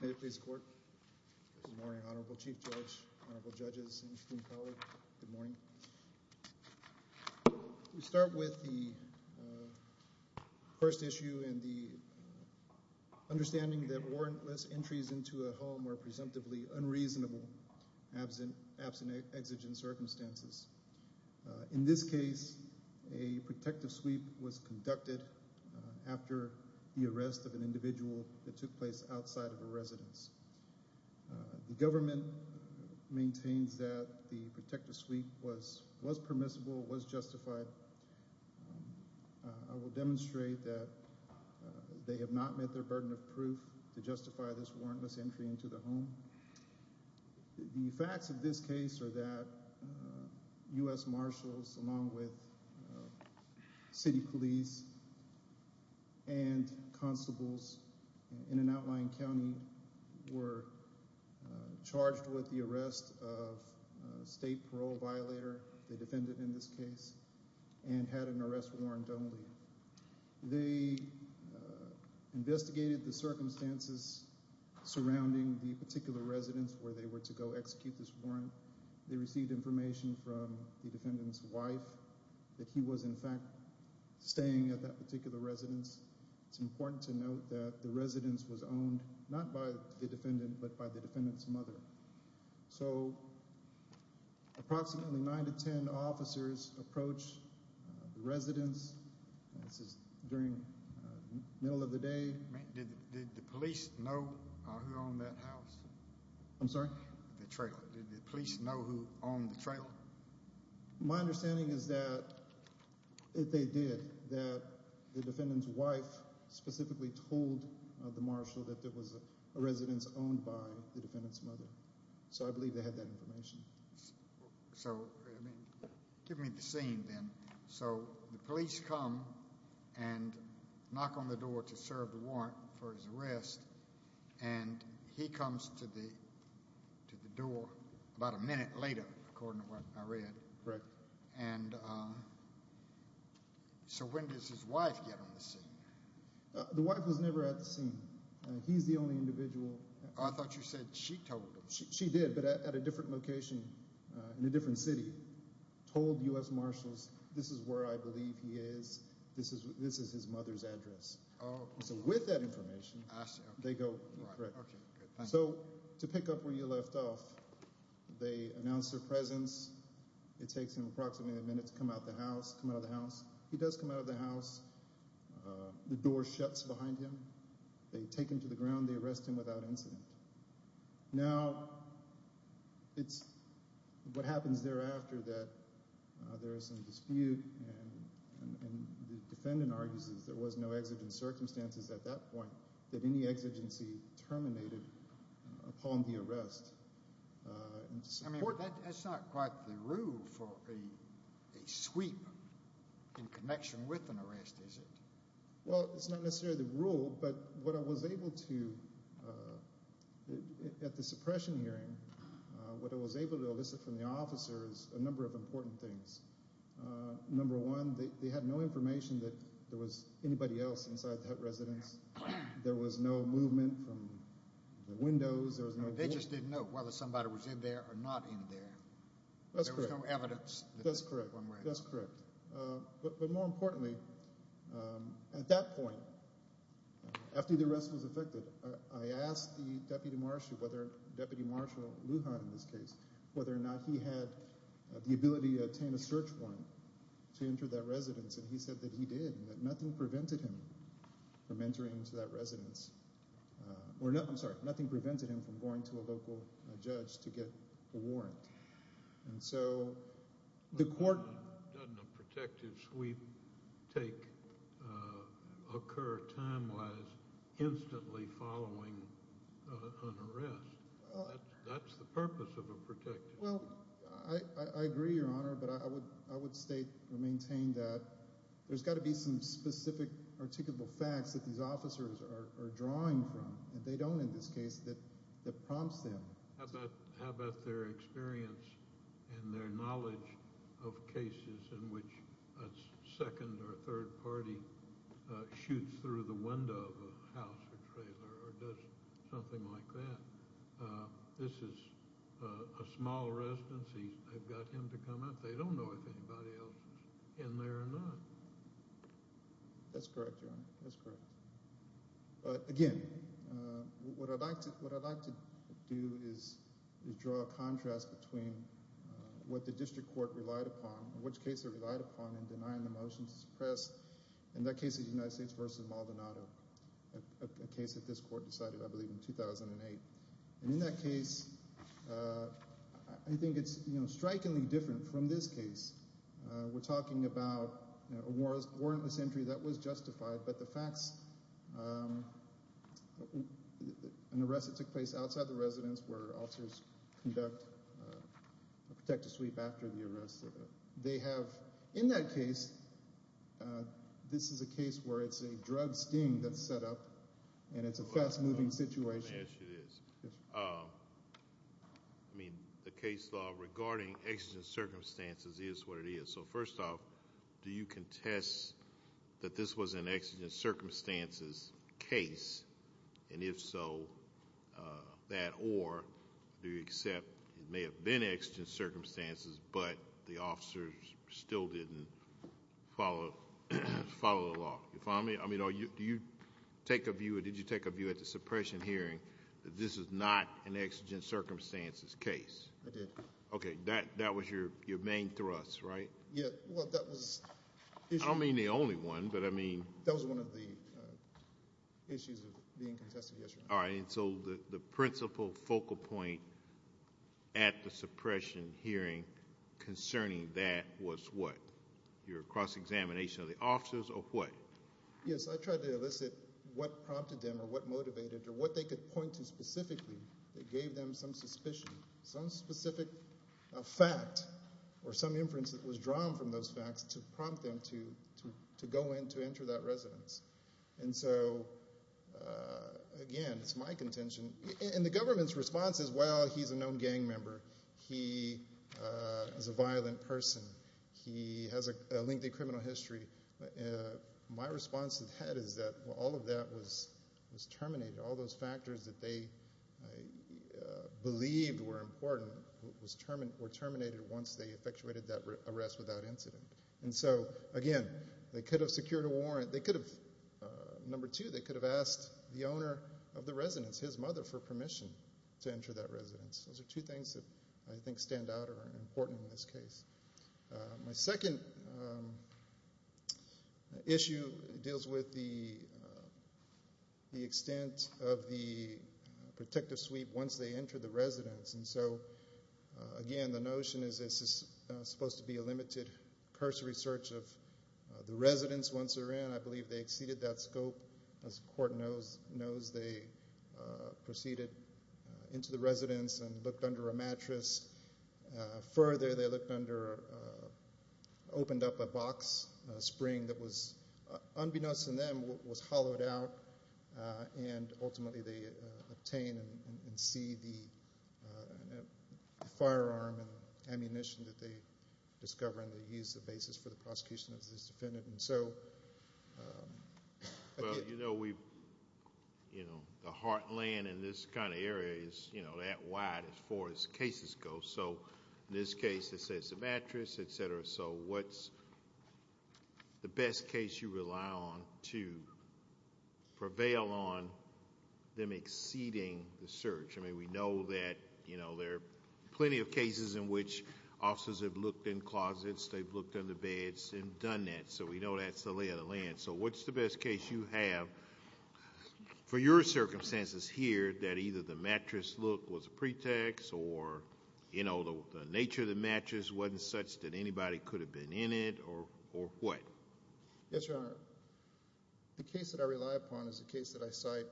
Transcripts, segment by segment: May it please the Court. Good morning, Honorable Chief Judge, Honorable Judges, and esteemed colleagues. Good morning. We start with the first issue and the understanding that warrantless entries into a home are presumptively unreasonable, absent exigent circumstances. In this case, a protective sweep was conducted after the arrest of an individual that took place outside of a residence. The government maintains that the protective sweep was permissible, was justified. I will demonstrate that they have not met their burden of proof to justify this warrantless entry into the home. The facts of this case are that U.S. Marshals along with city police and constables in an outlying county were charged with the arrest of a state parole violator, a defendant in this case, and had an arrest warrant only. They investigated the circumstances surrounding the particular residence where they were to go execute this warrant. They received information from the defendant's wife that he was in fact staying at that particular residence. It's important to note that the residence was owned not by the defendant but by the defendant's mother. So approximately nine to ten officers approached the residence. This is during the middle of the day. Did the police know who owned that house? I'm sorry? The trailer. Did the police know who owned the trailer? My understanding is that they did. That the defendant's wife specifically told the marshal that there was a residence owned by the defendant's mother. So I believe they had that information. So give me the scene then. So the police come and knock on the door to serve the warrant for his arrest and he comes to the door about a minute later according to what I read. Correct. And so when does his wife get on the scene? The wife was never at the scene. He's the only individual. I thought you said she told him. She did but at a different location in a different city told U.S. Marshals this is where I believe he is. This is his mother's address. So with that information they go. So to pick up where you left off, they announce their presence. It takes him approximately a minute to come out of the house. He does come out of the house. The door shuts behind him. They take him to the ground. They arrest him without incident. Now, it's what happens thereafter that there is some dispute and the defendant argues there was no exigent circumstances at that point that any exigency terminated upon the arrest. That's not quite the rule for a sweep in connection with an arrest, is it? Well, it's not necessarily the rule but what I was able to at the suppression hearing, what I was able to elicit from the officers a number of important things. Number one, they had no information that there was anybody else inside that residence. There was no movement from the windows. They just didn't know whether somebody was in there or not in there. There was no evidence. That's correct. But more importantly, at that point, after the arrest was effected, I asked the Deputy Marshal, Deputy Marshal Lujan in this case, whether or not he had the ability to obtain a search warrant to enter that residence. And he said that he did and that nothing prevented him from entering into that residence. I'm sorry, nothing prevented him from going to a local judge to get a warrant. Doesn't a protective sweep take – occur time-wise instantly following an arrest? That's the purpose of a protective sweep. Well, I agree, Your Honor, but I would state or maintain that there's got to be some specific articulable facts that these officers are drawing from. And they don't in this case that prompts them. How about their experience and their knowledge of cases in which a second or third party shoots through the window of a house or trailer or does something like that? This is a small residence. They've got him to come out. They don't know if anybody else is in there or not. That's correct, Your Honor. That's correct. But again, what I'd like to do is draw a contrast between what the district court relied upon, in which case it relied upon in denying the motion to suppress. In that case, it was United States v. Maldonado, a case that this court decided, I believe, in 2008. And in that case, I think it's strikingly different from this case. We're talking about a warrantless entry that was justified, but the facts, an arrest that took place outside the residence where officers conduct a protective sweep after the arrest. They have, in that case, this is a case where it's a drug sting that's set up, and it's a fast-moving situation. Yes, it is. Yes, sir. I mean, the case law regarding exigent circumstances is what it is. So first off, do you contest that this was an exigent circumstances case? And if so, that or do you accept it may have been exigent circumstances, but the officers still didn't follow the law? You follow me? I mean, do you take a view or did you take a view at the suppression hearing that this is not an exigent circumstances case? I did. Okay. That was your main thrust, right? Yeah. Well, that was the issue. I don't mean the only one, but I mean— That was one of the issues of being contested, yes, Your Honor. All right. And so the principal focal point at the suppression hearing concerning that was what? Your cross-examination of the officers or what? Yes, I tried to elicit what prompted them or what motivated or what they could point to specifically that gave them some suspicion, some specific fact or some inference that was drawn from those facts to prompt them to go in to enter that residence. And so, again, it's my contention. And the government's response is, well, he's a known gang member. He is a violent person. He has a lengthy criminal history. My response to that is that all of that was terminated. All those factors that they believed were important were terminated once they effectuated that arrest without incident. And so, again, they could have secured a warrant. They could have—number two, they could have asked the owner of the residence, his mother, for permission to enter that residence. Those are two things that I think stand out or are important in this case. My second issue deals with the extent of the protective sweep once they enter the residence. And so, again, the notion is this is supposed to be a limited cursory search of the residence once they're in. I believe they exceeded that scope. As the court knows, they proceeded into the residence and looked under a mattress. Further, they looked under—opened up a box spring that was—unbeknownst to them, was hollowed out. And ultimately, they obtain and see the firearm and ammunition that they discover, and they use the basis for the prosecution of this defendant. Well, you know, the heartland in this kind of area is that wide as far as cases go. So in this case, they say it's a mattress, et cetera. So what's the best case you rely on to prevail on them exceeding the search? I mean, we know that there are plenty of cases in which officers have looked in closets. They've looked under beds and done that. So we know that's the lay of the land. So what's the best case you have for your circumstances here that either the mattress look was a pretext or, you know, the nature of the mattress wasn't such that anybody could have been in it or what? Yes, Your Honor. The case that I rely upon is a case that I cite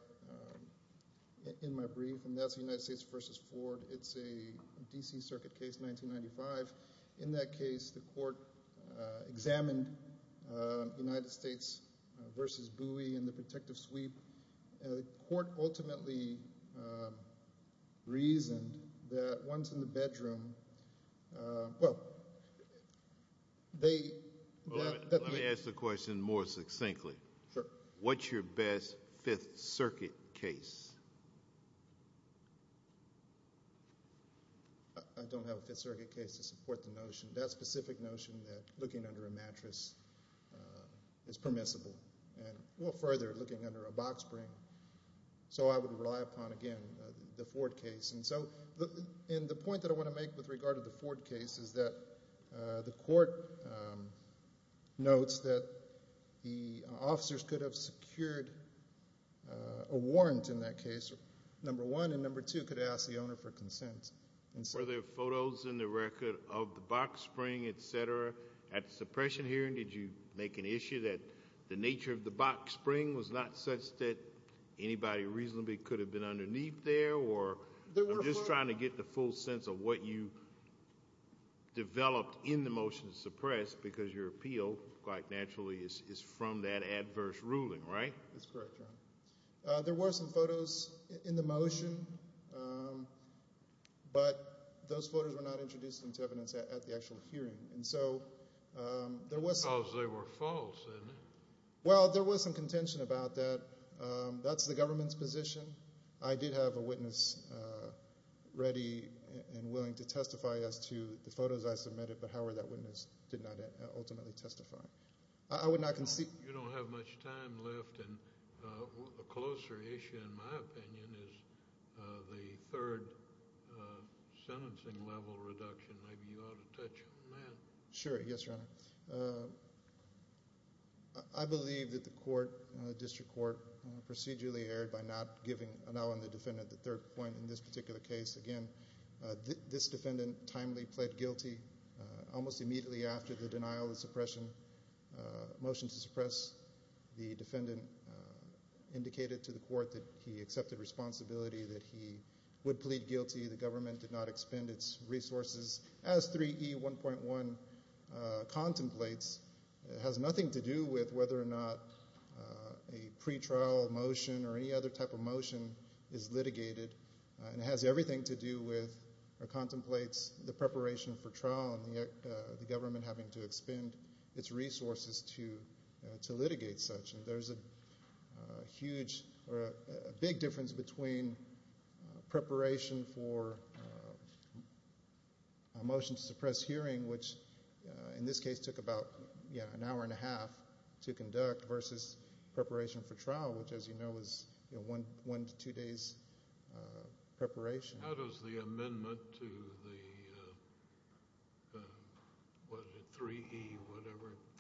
in my brief, and that's the United States v. Ford. It's a D.C. Circuit case, 1995. In that case, the court examined United States v. Bowie and the protective sweep. The court ultimately reasoned that once in the bedroom, well, they – Let me ask the question more succinctly. Sure. What's your best Fifth Circuit case? I don't have a Fifth Circuit case to support the notion, that specific notion that looking under a mattress is permissible and, well, further, looking under a box spring. So I would rely upon, again, the Ford case. And so the point that I want to make with regard to the Ford case is that the court notes that the officers could have secured a warrant in that case, number one, and number two, could ask the owner for consent. Were there photos in the record of the box spring, et cetera, at the suppression hearing? Did you make an issue that the nature of the box spring was not such that anybody reasonably could have been underneath there? Or I'm just trying to get the full sense of what you developed in the motion to suppress because your appeal, quite naturally, is from that adverse ruling, right? That's correct, Your Honor. There were some photos in the motion, but those photos were not introduced into evidence at the actual hearing. And so there was some – Because they were false, isn't it? Well, there was some contention about that. That's the government's position. I did have a witness ready and willing to testify as to the photos I submitted, but, however, that witness did not ultimately testify. You don't have much time left, and a closer issue, in my opinion, is the third sentencing level reduction. Maybe you ought to touch on that. Sure. Yes, Your Honor. I believe that the court, the district court, procedurally erred by not giving, now on the defendant, the third point in this particular case. Again, this defendant timely pled guilty almost immediately after the denial of suppression. The motion to suppress the defendant indicated to the court that he accepted responsibility, that he would plead guilty. The government did not expend its resources. As 3E1.1 contemplates, it has nothing to do with whether or not a pretrial motion or any other type of motion is litigated. It has everything to do with or contemplates the preparation for trial and the government having to expend its resources to litigate such. There's a big difference between preparation for a motion to suppress hearing, which in this case took about an hour and a half to conduct, versus preparation for trial, which, as you know, is one to two days preparation. How does the amendment to the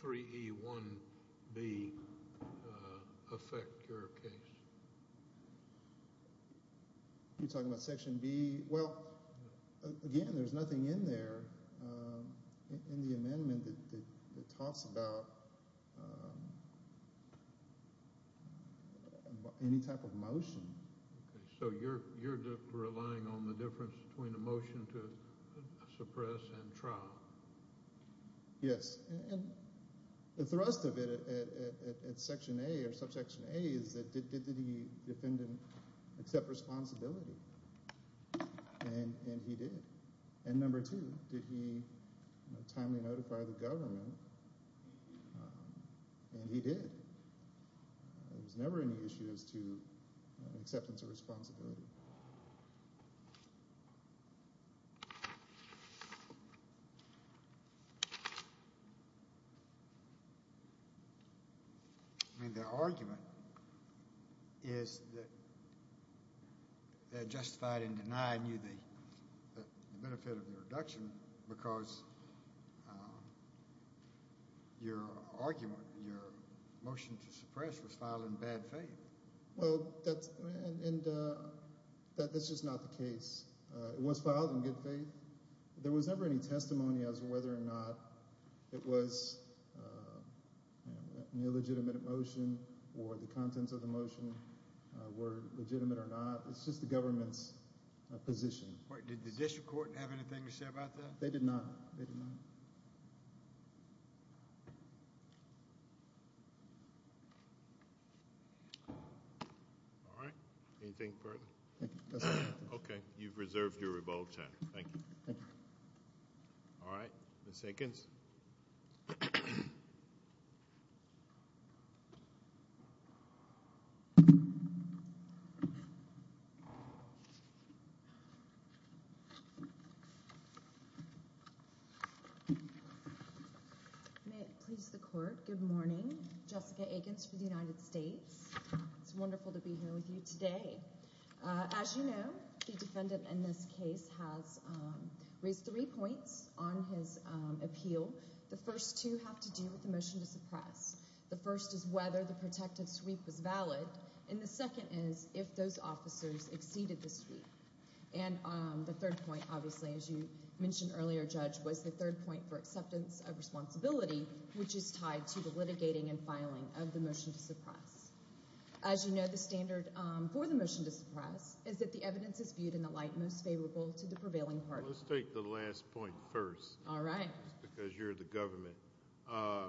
3E1B affect your case? You're talking about Section B? Well, again, there's nothing in there in the amendment that talks about any type of motion. So you're relying on the difference between a motion to suppress and trial? Yes. And the thrust of it at Section A or Subsection A is that did the defendant accept responsibility? And he did. And number two, did he timely notify the government? And he did. There was never any issue as to acceptance of responsibility. I mean, the argument is that they're justified in denying you the benefit of the reduction because your argument, your motion to suppress, was filed in bad faith. Well, that's just not the case. It was filed in good faith. There was never any testimony as to whether or not it was an illegitimate motion or the contents of the motion were legitimate or not. It's just the government's position. Did the district court have anything to say about that? They did not. They did not. All right. Anything further? That's all I have to say. Okay. You've reserved your revolt time. Thank you. Thank you. All right. Ms. Hickens? May it please the court. Good morning. Jessica Hickens for the United States. It's wonderful to be here with you today. As you know, the defendant in this case has raised three points on his appeal. The first two have to do with the motion to suppress. The first is whether the protective sweep was valid, and the second is if those officers exceeded the sweep. The third point, obviously, as you mentioned earlier, Judge, was the third point for acceptance of responsibility, which is tied to the litigating and filing of the motion to suppress. As you know, the standard for the motion to suppress is that the evidence is viewed in the light most favorable to the prevailing party. Let's take the last point first. All right. Because you're the government. I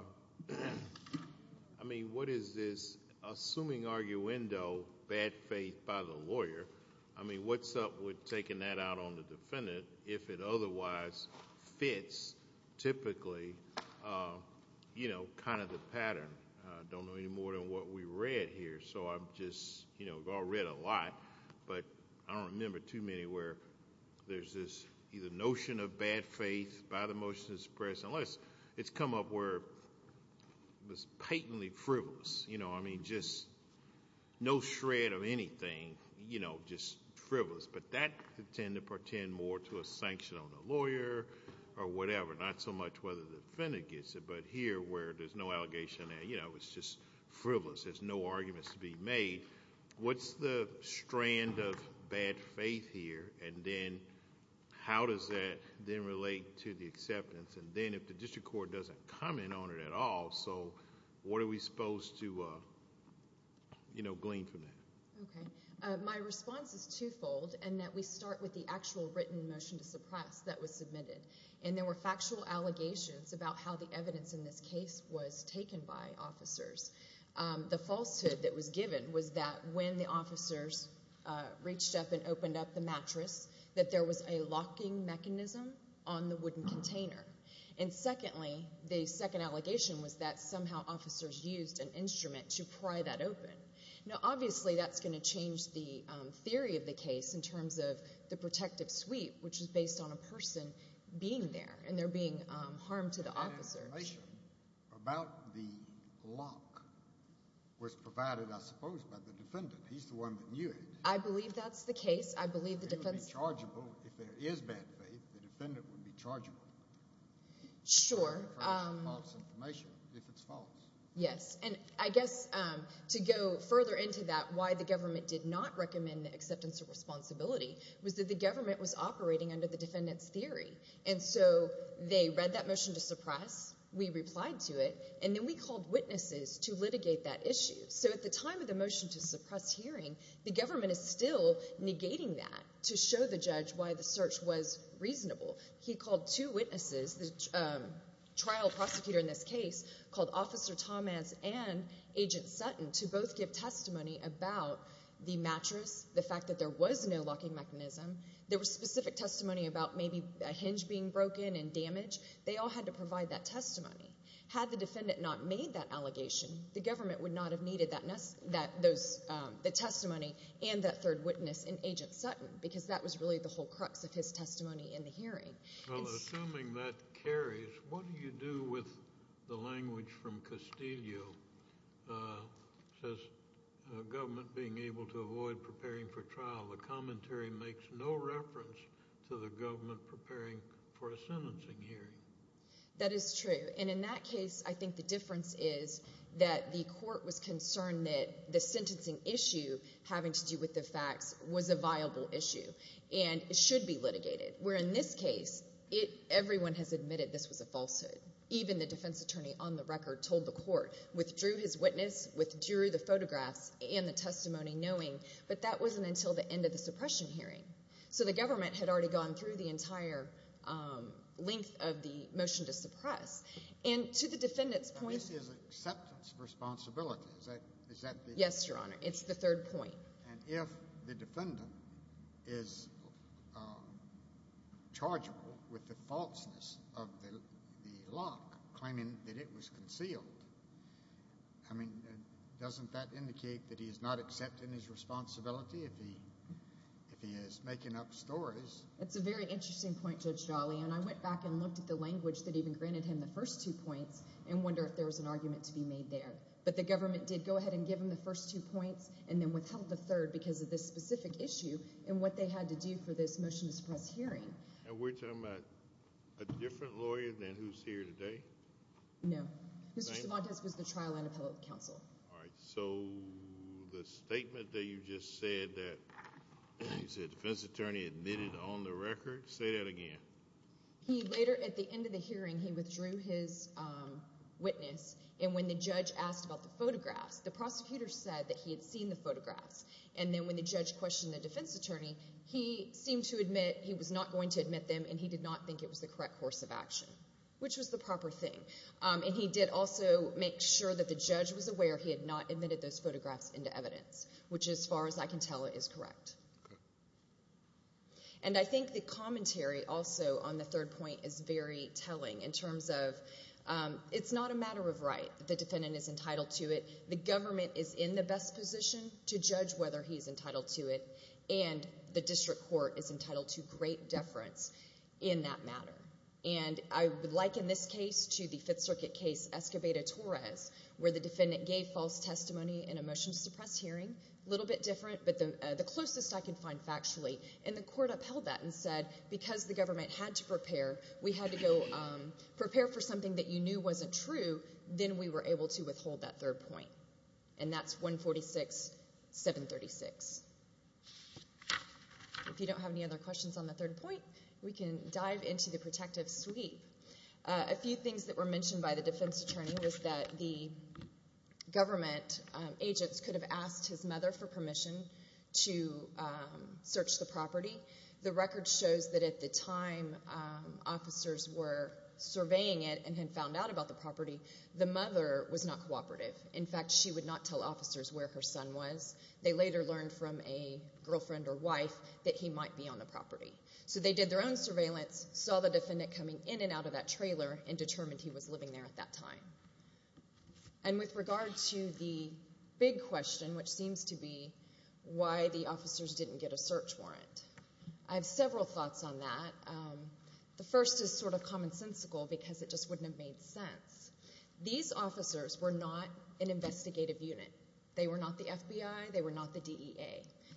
mean, what is this assuming arguendo, bad faith by the lawyer? I mean, what's up with taking that out on the defendant if it otherwise fits typically, you know, kind of the pattern? I don't know any more than what we read here. So I'm just, you know, we've all read a lot, but I don't remember too many where there's this either notion of bad faith by the motion to suppress, unless it's come up where it was patently frivolous. You know, I mean, just no shred of anything, you know, just frivolous. But that tend to pertain more to a sanction on the lawyer or whatever, not so much whether the defendant gets it, but here where there's no allegation, you know, it's just frivolous. There's no arguments to be made. What's the strand of bad faith here, and then how does that then relate to the acceptance? And then if the district court doesn't comment on it at all, so what are we supposed to, you know, glean from that? Okay. My response is twofold in that we start with the actual written motion to suppress that was submitted, and there were factual allegations about how the evidence in this case was taken by officers. The falsehood that was given was that when the officers reached up and opened up the mattress that there was a locking mechanism on the wooden container. And secondly, the second allegation was that somehow officers used an instrument to pry that open. Now, obviously, that's going to change the theory of the case in terms of the protective sweep, which is based on a person being there, and they're being harmed to the officer. That information about the lock was provided, I suppose, by the defendant. He's the one that knew it. I believe that's the case. I believe the defense— Well, if there is bad faith, the defendant would be charged with it. Sure. If it's false information, if it's false. Yes. And I guess to go further into that, why the government did not recommend the acceptance of responsibility was that the government was operating under the defendant's theory. And so they read that motion to suppress, we replied to it, and then we called witnesses to litigate that issue. So at the time of the motion to suppress hearing, the government is still negating that to show the judge why the search was reasonable. He called two witnesses, the trial prosecutor in this case called Officer Thomas and Agent Sutton to both give testimony about the mattress, the fact that there was no locking mechanism. There was specific testimony about maybe a hinge being broken and damaged. They all had to provide that testimony. Had the defendant not made that allegation, the government would not have needed that testimony and that third witness in Agent Sutton because that was really the whole crux of his testimony in the hearing. Well, assuming that carries, what do you do with the language from Castillo? It says, government being able to avoid preparing for trial. The commentary makes no reference to the government preparing for a sentencing hearing. That is true. And in that case, I think the difference is that the court was concerned that the sentencing issue having to do with the facts was a viable issue and should be litigated. Where in this case, everyone has admitted this was a falsehood. Even the defense attorney on the record told the court, withdrew his witness, withdrew the photographs and the testimony knowing, but that wasn't until the end of the suppression hearing. So the government had already gone through the entire length of the motion to suppress. And to the defendant's point— This is acceptance of responsibility. Is that the— Yes, Your Honor. It's the third point. And if the defendant is chargeable with the falseness of the lock, claiming that it was concealed, I mean, doesn't that indicate that he is not accepting his responsibility if he is making up stories? That's a very interesting point, Judge Dawley. And I went back and looked at the language that even granted him the first two points and wonder if there was an argument to be made there. But the government did go ahead and give him the first two points and then withheld the third because of this specific issue and what they had to do for this motion to suppress hearing. And we're talking about a different lawyer than who's here today? No. Mr. Cervantes was the trial and appellate counsel. All right. So the statement that you just said that the defense attorney admitted on the record, say that again. He later, at the end of the hearing, he withdrew his witness. And when the judge asked about the photographs, the prosecutor said that he had seen the photographs. And then when the judge questioned the defense attorney, he seemed to admit he was not going to admit them and he did not think it was the correct course of action, which was the proper thing. And he did also make sure that the judge was aware he had not admitted those photographs into evidence, which as far as I can tell is correct. And I think the commentary also on the third point is very telling in terms of it's not a matter of right. The defendant is entitled to it. The government is in the best position to judge whether he's entitled to it, and the district court is entitled to great deference in that matter. And I would liken this case to the Fifth Circuit case, Escobedo-Torres, where the defendant gave false testimony in a motion to suppress hearing. A little bit different, but the closest I can find factually. And the court upheld that and said because the government had to prepare, we had to go prepare for something that you knew wasn't true, then we were able to withhold that third point. And that's 146-736. If you don't have any other questions on the third point, we can dive into the protective sweep. A few things that were mentioned by the defense attorney was that the government agents could have asked his mother for permission to search the property. The record shows that at the time officers were surveying it and had found out about the property, the mother was not cooperative. In fact, she would not tell officers where her son was. They later learned from a girlfriend or wife that he might be on the property. So they did their own surveillance, saw the defendant coming in and out of that trailer, and determined he was living there at that time. And with regard to the big question, which seems to be why the officers didn't get a search warrant, I have several thoughts on that. The first is sort of commonsensical because it just wouldn't have made sense. These officers were not an investigative unit. They were not the FBI. They were not the DEA.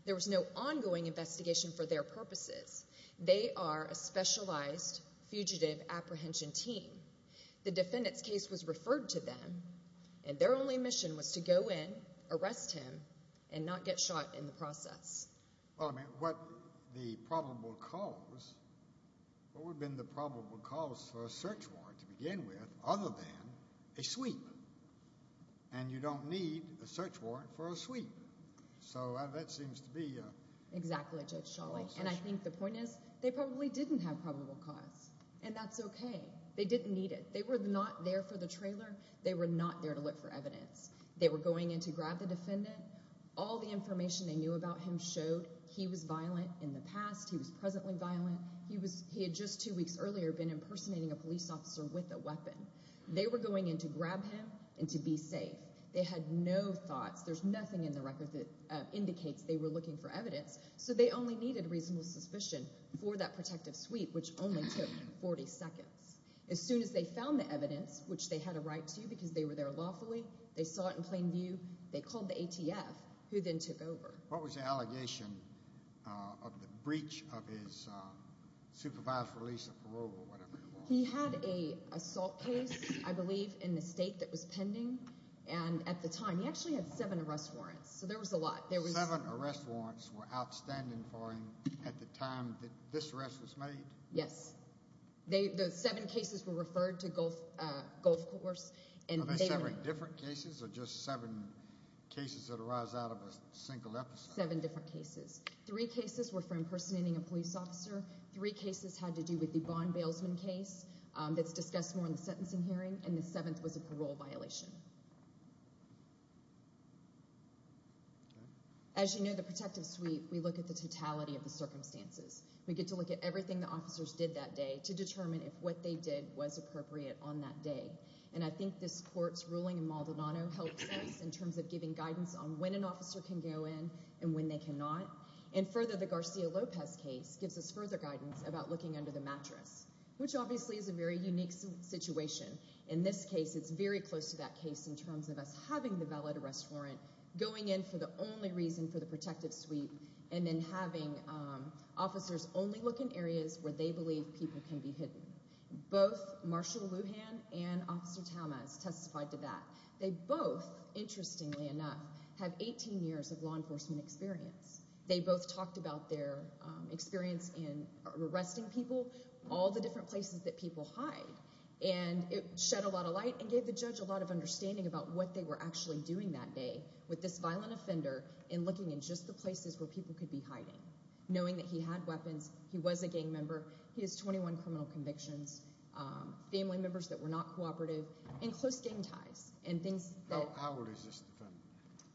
There was no ongoing investigation for their purposes. They are a specialized fugitive apprehension team. The defendant's case was referred to them, and their only mission was to go in, arrest him, and not get shot in the process. Well, I mean, what the problem would cause, what would have been the probable cause for a search warrant to begin with, other than a sweep? And you don't need a search warrant for a sweep. So that seems to be a— Exactly, Judge Schawley. And I think the point is they probably didn't have probable cause, and that's okay. They didn't need it. They were not there for the trailer. They were not there to look for evidence. They were going in to grab the defendant. All the information they knew about him showed he was violent in the past. He was presently violent. He had just two weeks earlier been impersonating a police officer with a weapon. They were going in to grab him and to be safe. They had no thoughts. There's nothing in the record that indicates they were looking for evidence. So they only needed reasonable suspicion for that protective sweep, which only took 40 seconds. As soon as they found the evidence, which they had a right to because they were there lawfully, they saw it in plain view, they called the ATF, who then took over. What was the allegation of the breach of his supervised release of parole or whatever it was? He had an assault case, I believe, in the state that was pending. And at the time, he actually had seven arrest warrants. So there was a lot. Seven arrest warrants were outstanding for him at the time that this arrest was made? Yes. The seven cases were referred to Gulf Course. Were they seven different cases or just seven cases that arise out of a single episode? Seven different cases. Three cases were for impersonating a police officer. Three cases had to do with the bond bailsman case that's discussed more in the sentencing hearing. And the seventh was a parole violation. As you know, the protective sweep, we look at the totality of the circumstances. We get to look at everything the officers did that day to determine if what they did was appropriate on that day. And I think this court's ruling in Maldonado helps us in terms of giving guidance on when an officer can go in and when they cannot. And further, the Garcia-Lopez case gives us further guidance about looking under the mattress, which obviously is a very unique situation. In this case, it's very close to that case in terms of us having the valid arrest warrant, going in for the only reason for the protective sweep, and then having officers only look in areas where they believe people can be hidden. Both Marshall Lujan and Officer Tamas testified to that. They both, interestingly enough, have 18 years of law enforcement experience. They both talked about their experience in arresting people, all the different places that people hide. And it shed a lot of light and gave the judge a lot of understanding about what they were actually doing that day with this violent offender and looking in just the places where people could be hiding, knowing that he had weapons, he was a gang member, he has 21 criminal convictions, family members that were not cooperative, and close gang ties. How old is this defendant?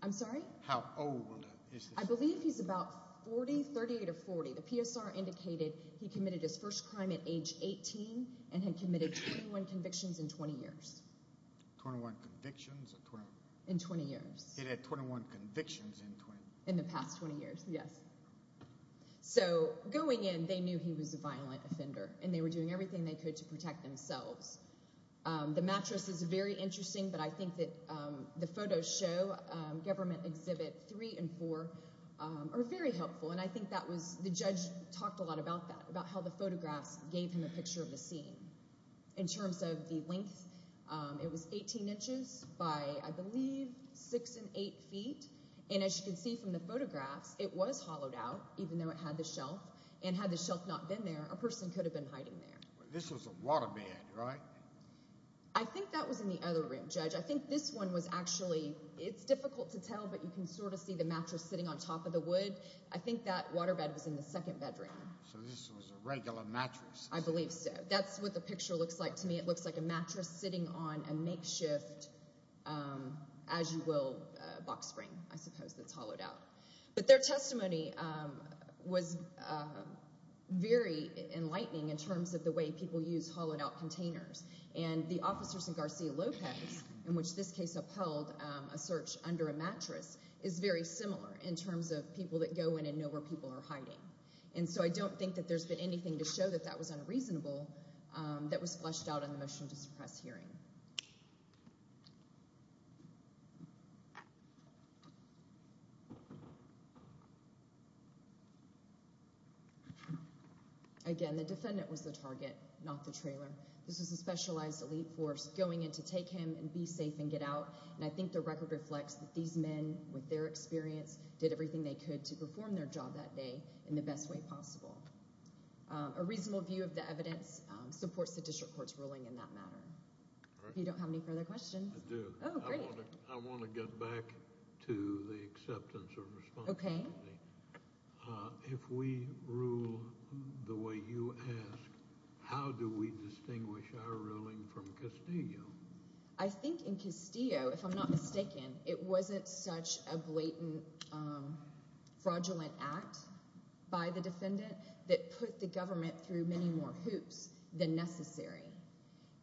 I'm sorry? How old is this defendant? I believe he's about 40, 38 or 40. The PSR indicated he committed his first crime at age 18 and had committed 21 convictions in 20 years. 21 convictions? In 20 years. He had 21 convictions in 20 years? In the past 20 years, yes. So going in, they knew he was a violent offender, and they were doing everything they could to protect themselves. The mattress is very interesting, but I think that the photos show, Government Exhibit 3 and 4, are very helpful. And I think the judge talked a lot about that, about how the photographs gave him a picture of the scene. In terms of the length, it was 18 inches by, I believe, 6 and 8 feet. And as you can see from the photographs, it was hollowed out, even though it had the shelf. And had the shelf not been there, a person could have been hiding there. This was a waterbed, right? I think that was in the other room, Judge. I think this one was actually, it's difficult to tell, but you can sort of see the mattress sitting on top of the wood. I think that waterbed was in the second bedroom. So this was a regular mattress? I believe so. But that's what the picture looks like to me. It looks like a mattress sitting on a makeshift, as you will, box spring, I suppose, that's hollowed out. But their testimony was very enlightening in terms of the way people use hollowed out containers. And the officers in Garcia Lopez, in which this case upheld a search under a mattress, is very similar in terms of people that go in and know where people are hiding. And so I don't think that there's been anything to show that that was unreasonable that was fleshed out in the motion to suppress hearing. Again, the defendant was the target, not the trailer. This was a specialized elite force going in to take him and be safe and get out. And I think the record reflects that these men, with their experience, did everything they could to perform their job that day in the best way possible. A reasonable view of the evidence supports the district court's ruling in that matter. If you don't have any further questions. I do. Oh, great. I want to get back to the acceptance of responsibility. Okay. If we rule the way you ask, how do we distinguish our ruling from Castillo? I think in Castillo, if I'm not mistaken, it wasn't such a blatant, fraudulent act by the defendant that put the government through many more hoops than necessary.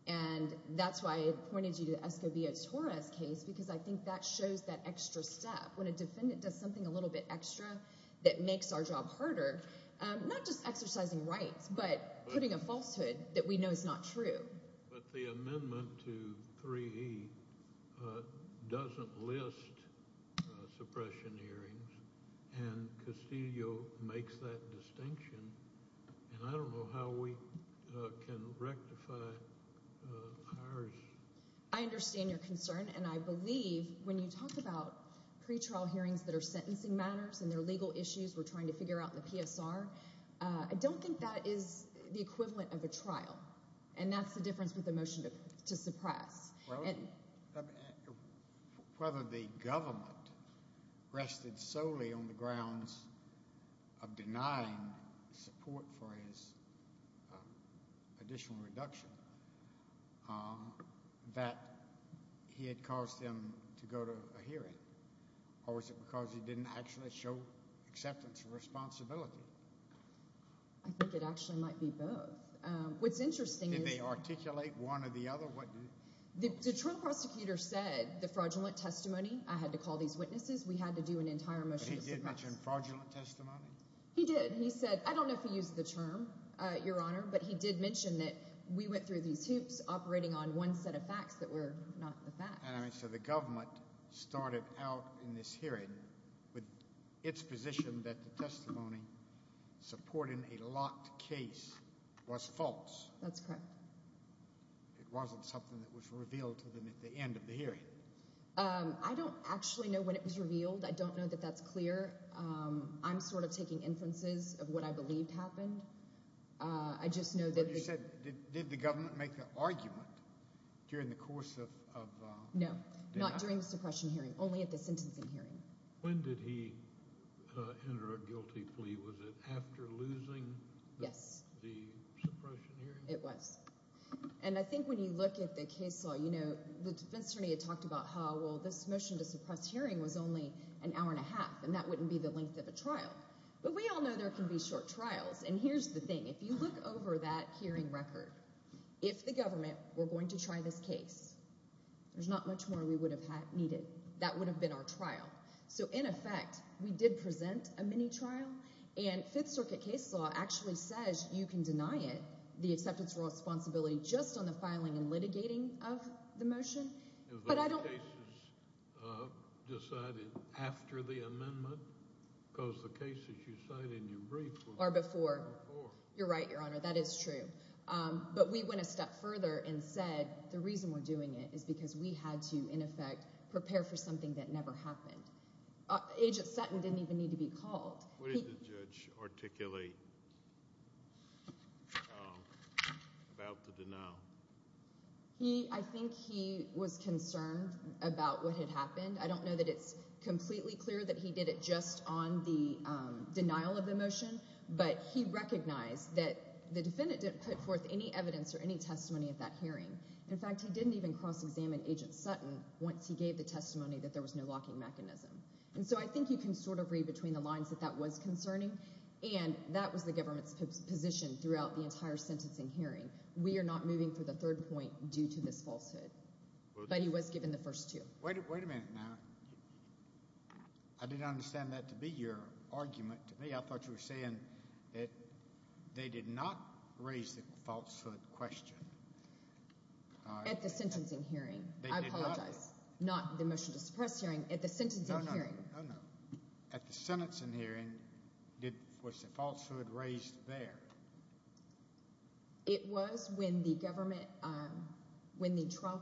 And that's why I pointed you to Escobilla Torres' case, because I think that shows that extra step. When a defendant does something a little bit extra that makes our job harder, not just exercising rights, but putting a falsehood that we know is not true. But the amendment to 3E doesn't list suppression hearings, and Castillo makes that distinction. And I don't know how we can rectify ours. I understand your concern, and I believe when you talk about pretrial hearings that are sentencing matters and they're legal issues we're trying to figure out in the PSR, I don't think that is the equivalent of a trial. And that's the difference with the motion to suppress. Whether the government rested solely on the grounds of denying support for his additional reduction, that he had caused them to go to a hearing. Or was it because he didn't actually show acceptance of responsibility? I think it actually might be both. What's interesting is… Did they articulate one or the other? The trial prosecutor said the fraudulent testimony, I had to call these witnesses, we had to do an entire motion to suppress. But he did mention fraudulent testimony? He did. He said, I don't know if he used the term, Your Honor, but he did mention that we went through these hoops operating on one set of facts that were not the facts. So the government started out in this hearing with its position that the testimony supporting a locked case was false. That's correct. It wasn't something that was revealed to them at the end of the hearing. I don't actually know when it was revealed. I don't know that that's clear. I'm sort of taking inferences of what I believed happened. But you said, did the government make an argument during the course of the trial? No, not during the suppression hearing, only at the sentencing hearing. When did he enter a guilty plea? Was it after losing the suppression hearing? It was. And I think when you look at the case law, the defense attorney had talked about how this motion to suppress hearing was only an hour and a half, and that wouldn't be the length of a trial. But we all know there can be short trials, and here's the thing. If you look over that hearing record, if the government were going to try this case, there's not much more we would have needed. That would have been our trial. So in effect, we did present a mini-trial, and Fifth Circuit case law actually says you can deny it, the acceptance of responsibility, just on the filing and litigating of the motion. Have those cases decided after the amendment? Because the cases you cited in your brief were before. Are before. You're right, Your Honor, that is true. But we went a step further and said the reason we're doing it is because we had to, in effect, prepare for something that never happened. Agent Sutton didn't even need to be called. What did the judge articulate about the denial? I think he was concerned about what had happened. I don't know that it's completely clear that he did it just on the denial of the motion, but he recognized that the defendant didn't put forth any evidence or any testimony at that hearing. In fact, he didn't even cross-examine Agent Sutton once he gave the testimony that there was no locking mechanism. And so I think you can sort of read between the lines that that was concerning, and that was the government's position throughout the entire sentencing hearing. We are not moving for the third point due to this falsehood. But he was given the first two. Wait a minute now. I didn't understand that to be your argument to me. I thought you were saying that they did not raise the falsehood question. At the sentencing hearing. I apologize. They did not. Not the motion to suppress hearing. At the sentencing hearing. Oh, no. At the sentencing hearing, was the falsehood raised there? It was when the trial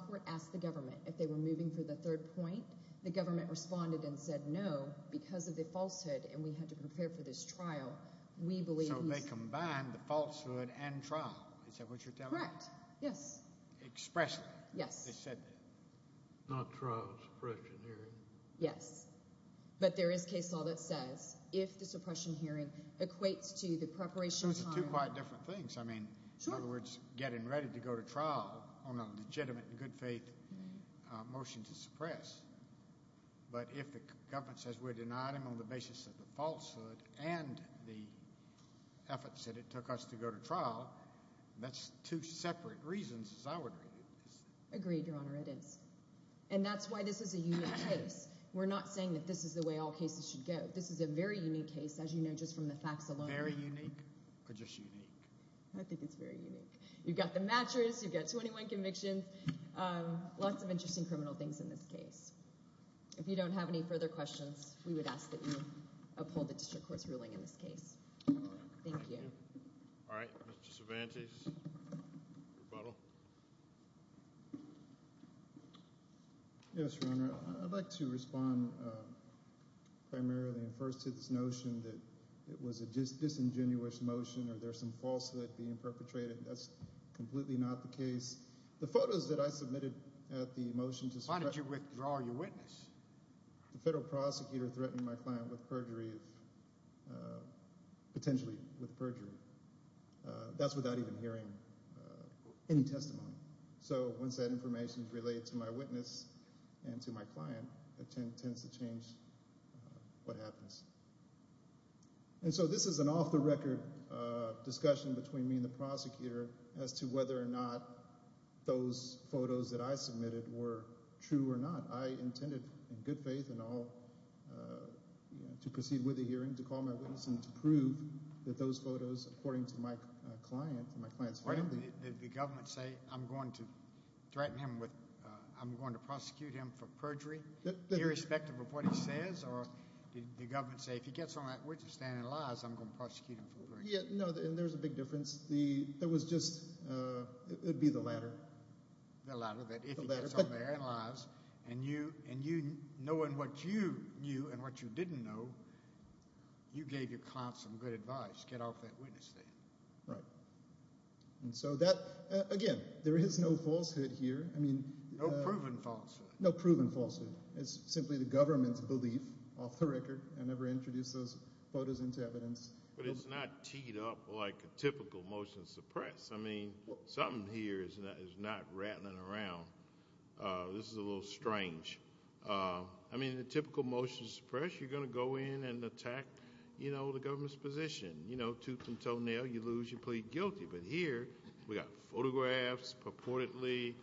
court asked the government if they were moving for the third point. The government responded and said no because of the falsehood, and we had to prepare for this trial. So they combined the falsehood and trial. Is that what you're telling me? Correct. Yes. Expressly. Yes. They said not trial, suppression hearing. Yes. But there is case law that says if the suppression hearing equates to the preparation time. So it's two quite different things. I mean, in other words, getting ready to go to trial on a legitimate and good faith motion to suppress. But if the government says we're denying them on the basis of the falsehood and the efforts that it took us to go to trial, that's two separate reasons as I would read it. Agreed, Your Honor. It is. And that's why this is a unique case. We're not saying that this is the way all cases should go. This is a very unique case, as you know, just from the facts alone. Very unique or just unique? I think it's very unique. You've got the matchers. You've got 21 convictions. Lots of interesting criminal things in this case. If you don't have any further questions, we would ask that you uphold the district court's ruling in this case. Thank you. All right. Mr. Cervantes, rebuttal. Yes, Your Honor. I'd like to respond primarily and first to this notion that it was a disingenuous motion or there's some falsehood being perpetrated. That's completely not the case. The photos that I submitted at the motion to suppress – Why did you withdraw your witness? The federal prosecutor threatened my client with perjury, potentially with perjury. That's without even hearing any testimony. So once that information is related to my witness and to my client, it tends to change what happens. And so this is an off-the-record discussion between me and the prosecutor as to whether or not those photos that I submitted were true or not. I intended in good faith and all to proceed with the hearing to call my witness and to prove that those photos, according to my client and my client's family – Did the government say, I'm going to threaten him with – I'm going to prosecute him for perjury irrespective of what he says? Or did the government say, if he gets on that witness stand and lies, I'm going to prosecute him for perjury? No, and there's a big difference. There was just – it would be the latter. The latter, that if he gets on there and lies, and you, knowing what you knew and what you didn't know, you gave your client some good advice, get off that witness stand. Right. And so that – again, there is no falsehood here. No proven falsehood. No proven falsehood. It's simply the government's belief, off the record. I never introduced those photos into evidence. But it's not teed up like a typical motion to suppress. I mean, something here is not rattling around. This is a little strange. I mean, the typical motion to suppress, you're going to go in and attack the government's position. Tooth and toenail, you lose, you plead guilty. But here, we've got photographs purportedly,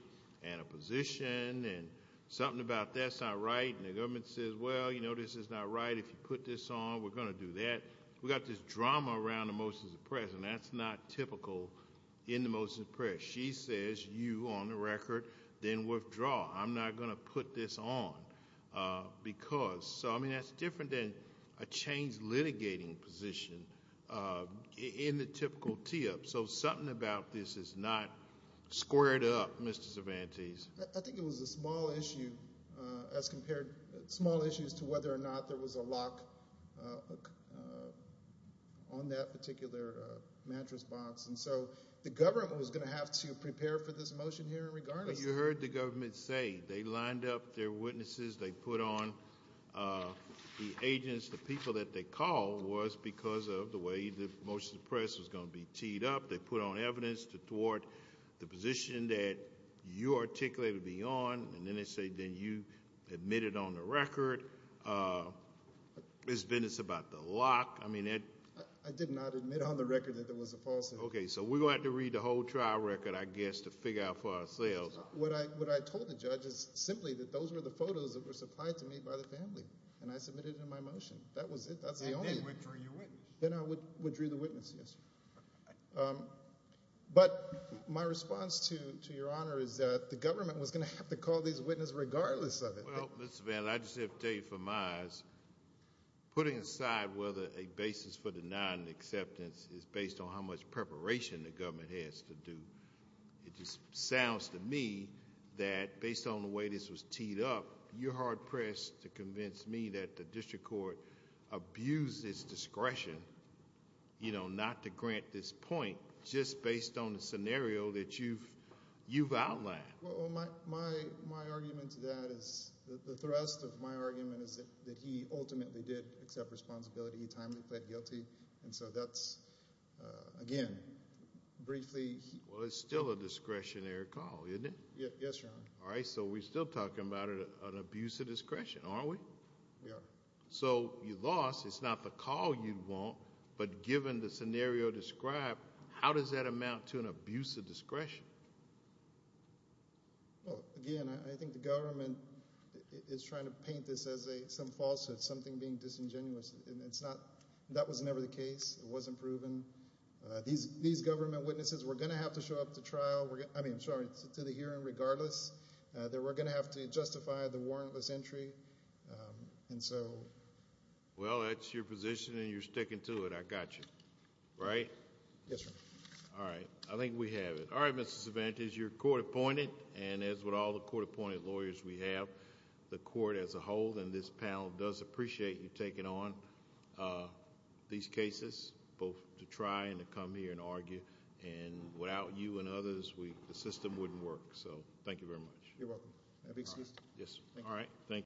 and a position, and something about that's not right. And the government says, well, you know, this is not right. If you put this on, we're going to do that. We've got this drama around the motion to suppress, and that's not typical in the motion to suppress. She says, you, on the record, then withdraw. I'm not going to put this on because – so, I mean, that's different than a changed litigating position in the typical tee-up. So something about this is not squared up, Mr. Cervantes. I think it was a small issue as compared – small issues to whether or not there was a lock on that particular mattress box. And so the government was going to have to prepare for this motion here regardless. But you heard the government say they lined up their witnesses. They put on the agents, the people that they called was because of the way the motion to suppress was going to be teed up. They put on evidence toward the position that you articulated to be on, and then they say then you admitted on the record. It's been – it's about the lock. I mean – I did not admit on the record that there was a falsehood. Okay, so we're going to have to read the whole trial record, I guess, to figure out for ourselves. What I told the judge is simply that those were the photos that were supplied to me by the family, and I submitted it in my motion. That was it. That's the only – Then withdrew your witness. Then I withdrew the witness, yes, sir. But my response to Your Honor is that the government was going to have to call these witnesses regardless of it. Well, Mr. Van, I just have to tell you from my eyes, putting aside whether a basis for the non-acceptance is based on how much preparation the government has to do, it just sounds to me that based on the way this was teed up, you're hard-pressed to convince me that the district court abused its discretion not to grant this point just based on the scenario that you've outlined. Well, my argument to that is – the thrust of my argument is that he ultimately did accept responsibility. He timely pled guilty, and so that's, again, briefly – Well, it's still a discretionary call, isn't it? Yes, Your Honor. All right, so we're still talking about an abuse of discretion, aren't we? We are. So you lost. It's not the call you want, but given the scenario described, how does that amount to an abuse of discretion? Well, again, I think the government is trying to paint this as some falsehood, something being disingenuous. It's not – that was never the case. It wasn't proven. These government witnesses were going to have to show up to trial – I mean, sorry, to the hearing regardless. They were going to have to justify the warrantless entry, and so... Well, that's your position, and you're sticking to it. I got you. Right? Yes, Your Honor. All right. I think we have it. All right, Mr. Cervantes, you're court-appointed, and as with all the court-appointed lawyers we have, the court as a whole and this panel does appreciate you taking on these cases, both to try and to come here and argue, and without you and others, the system wouldn't work. So thank you very much. You're welcome. May I be excused? Yes. All right.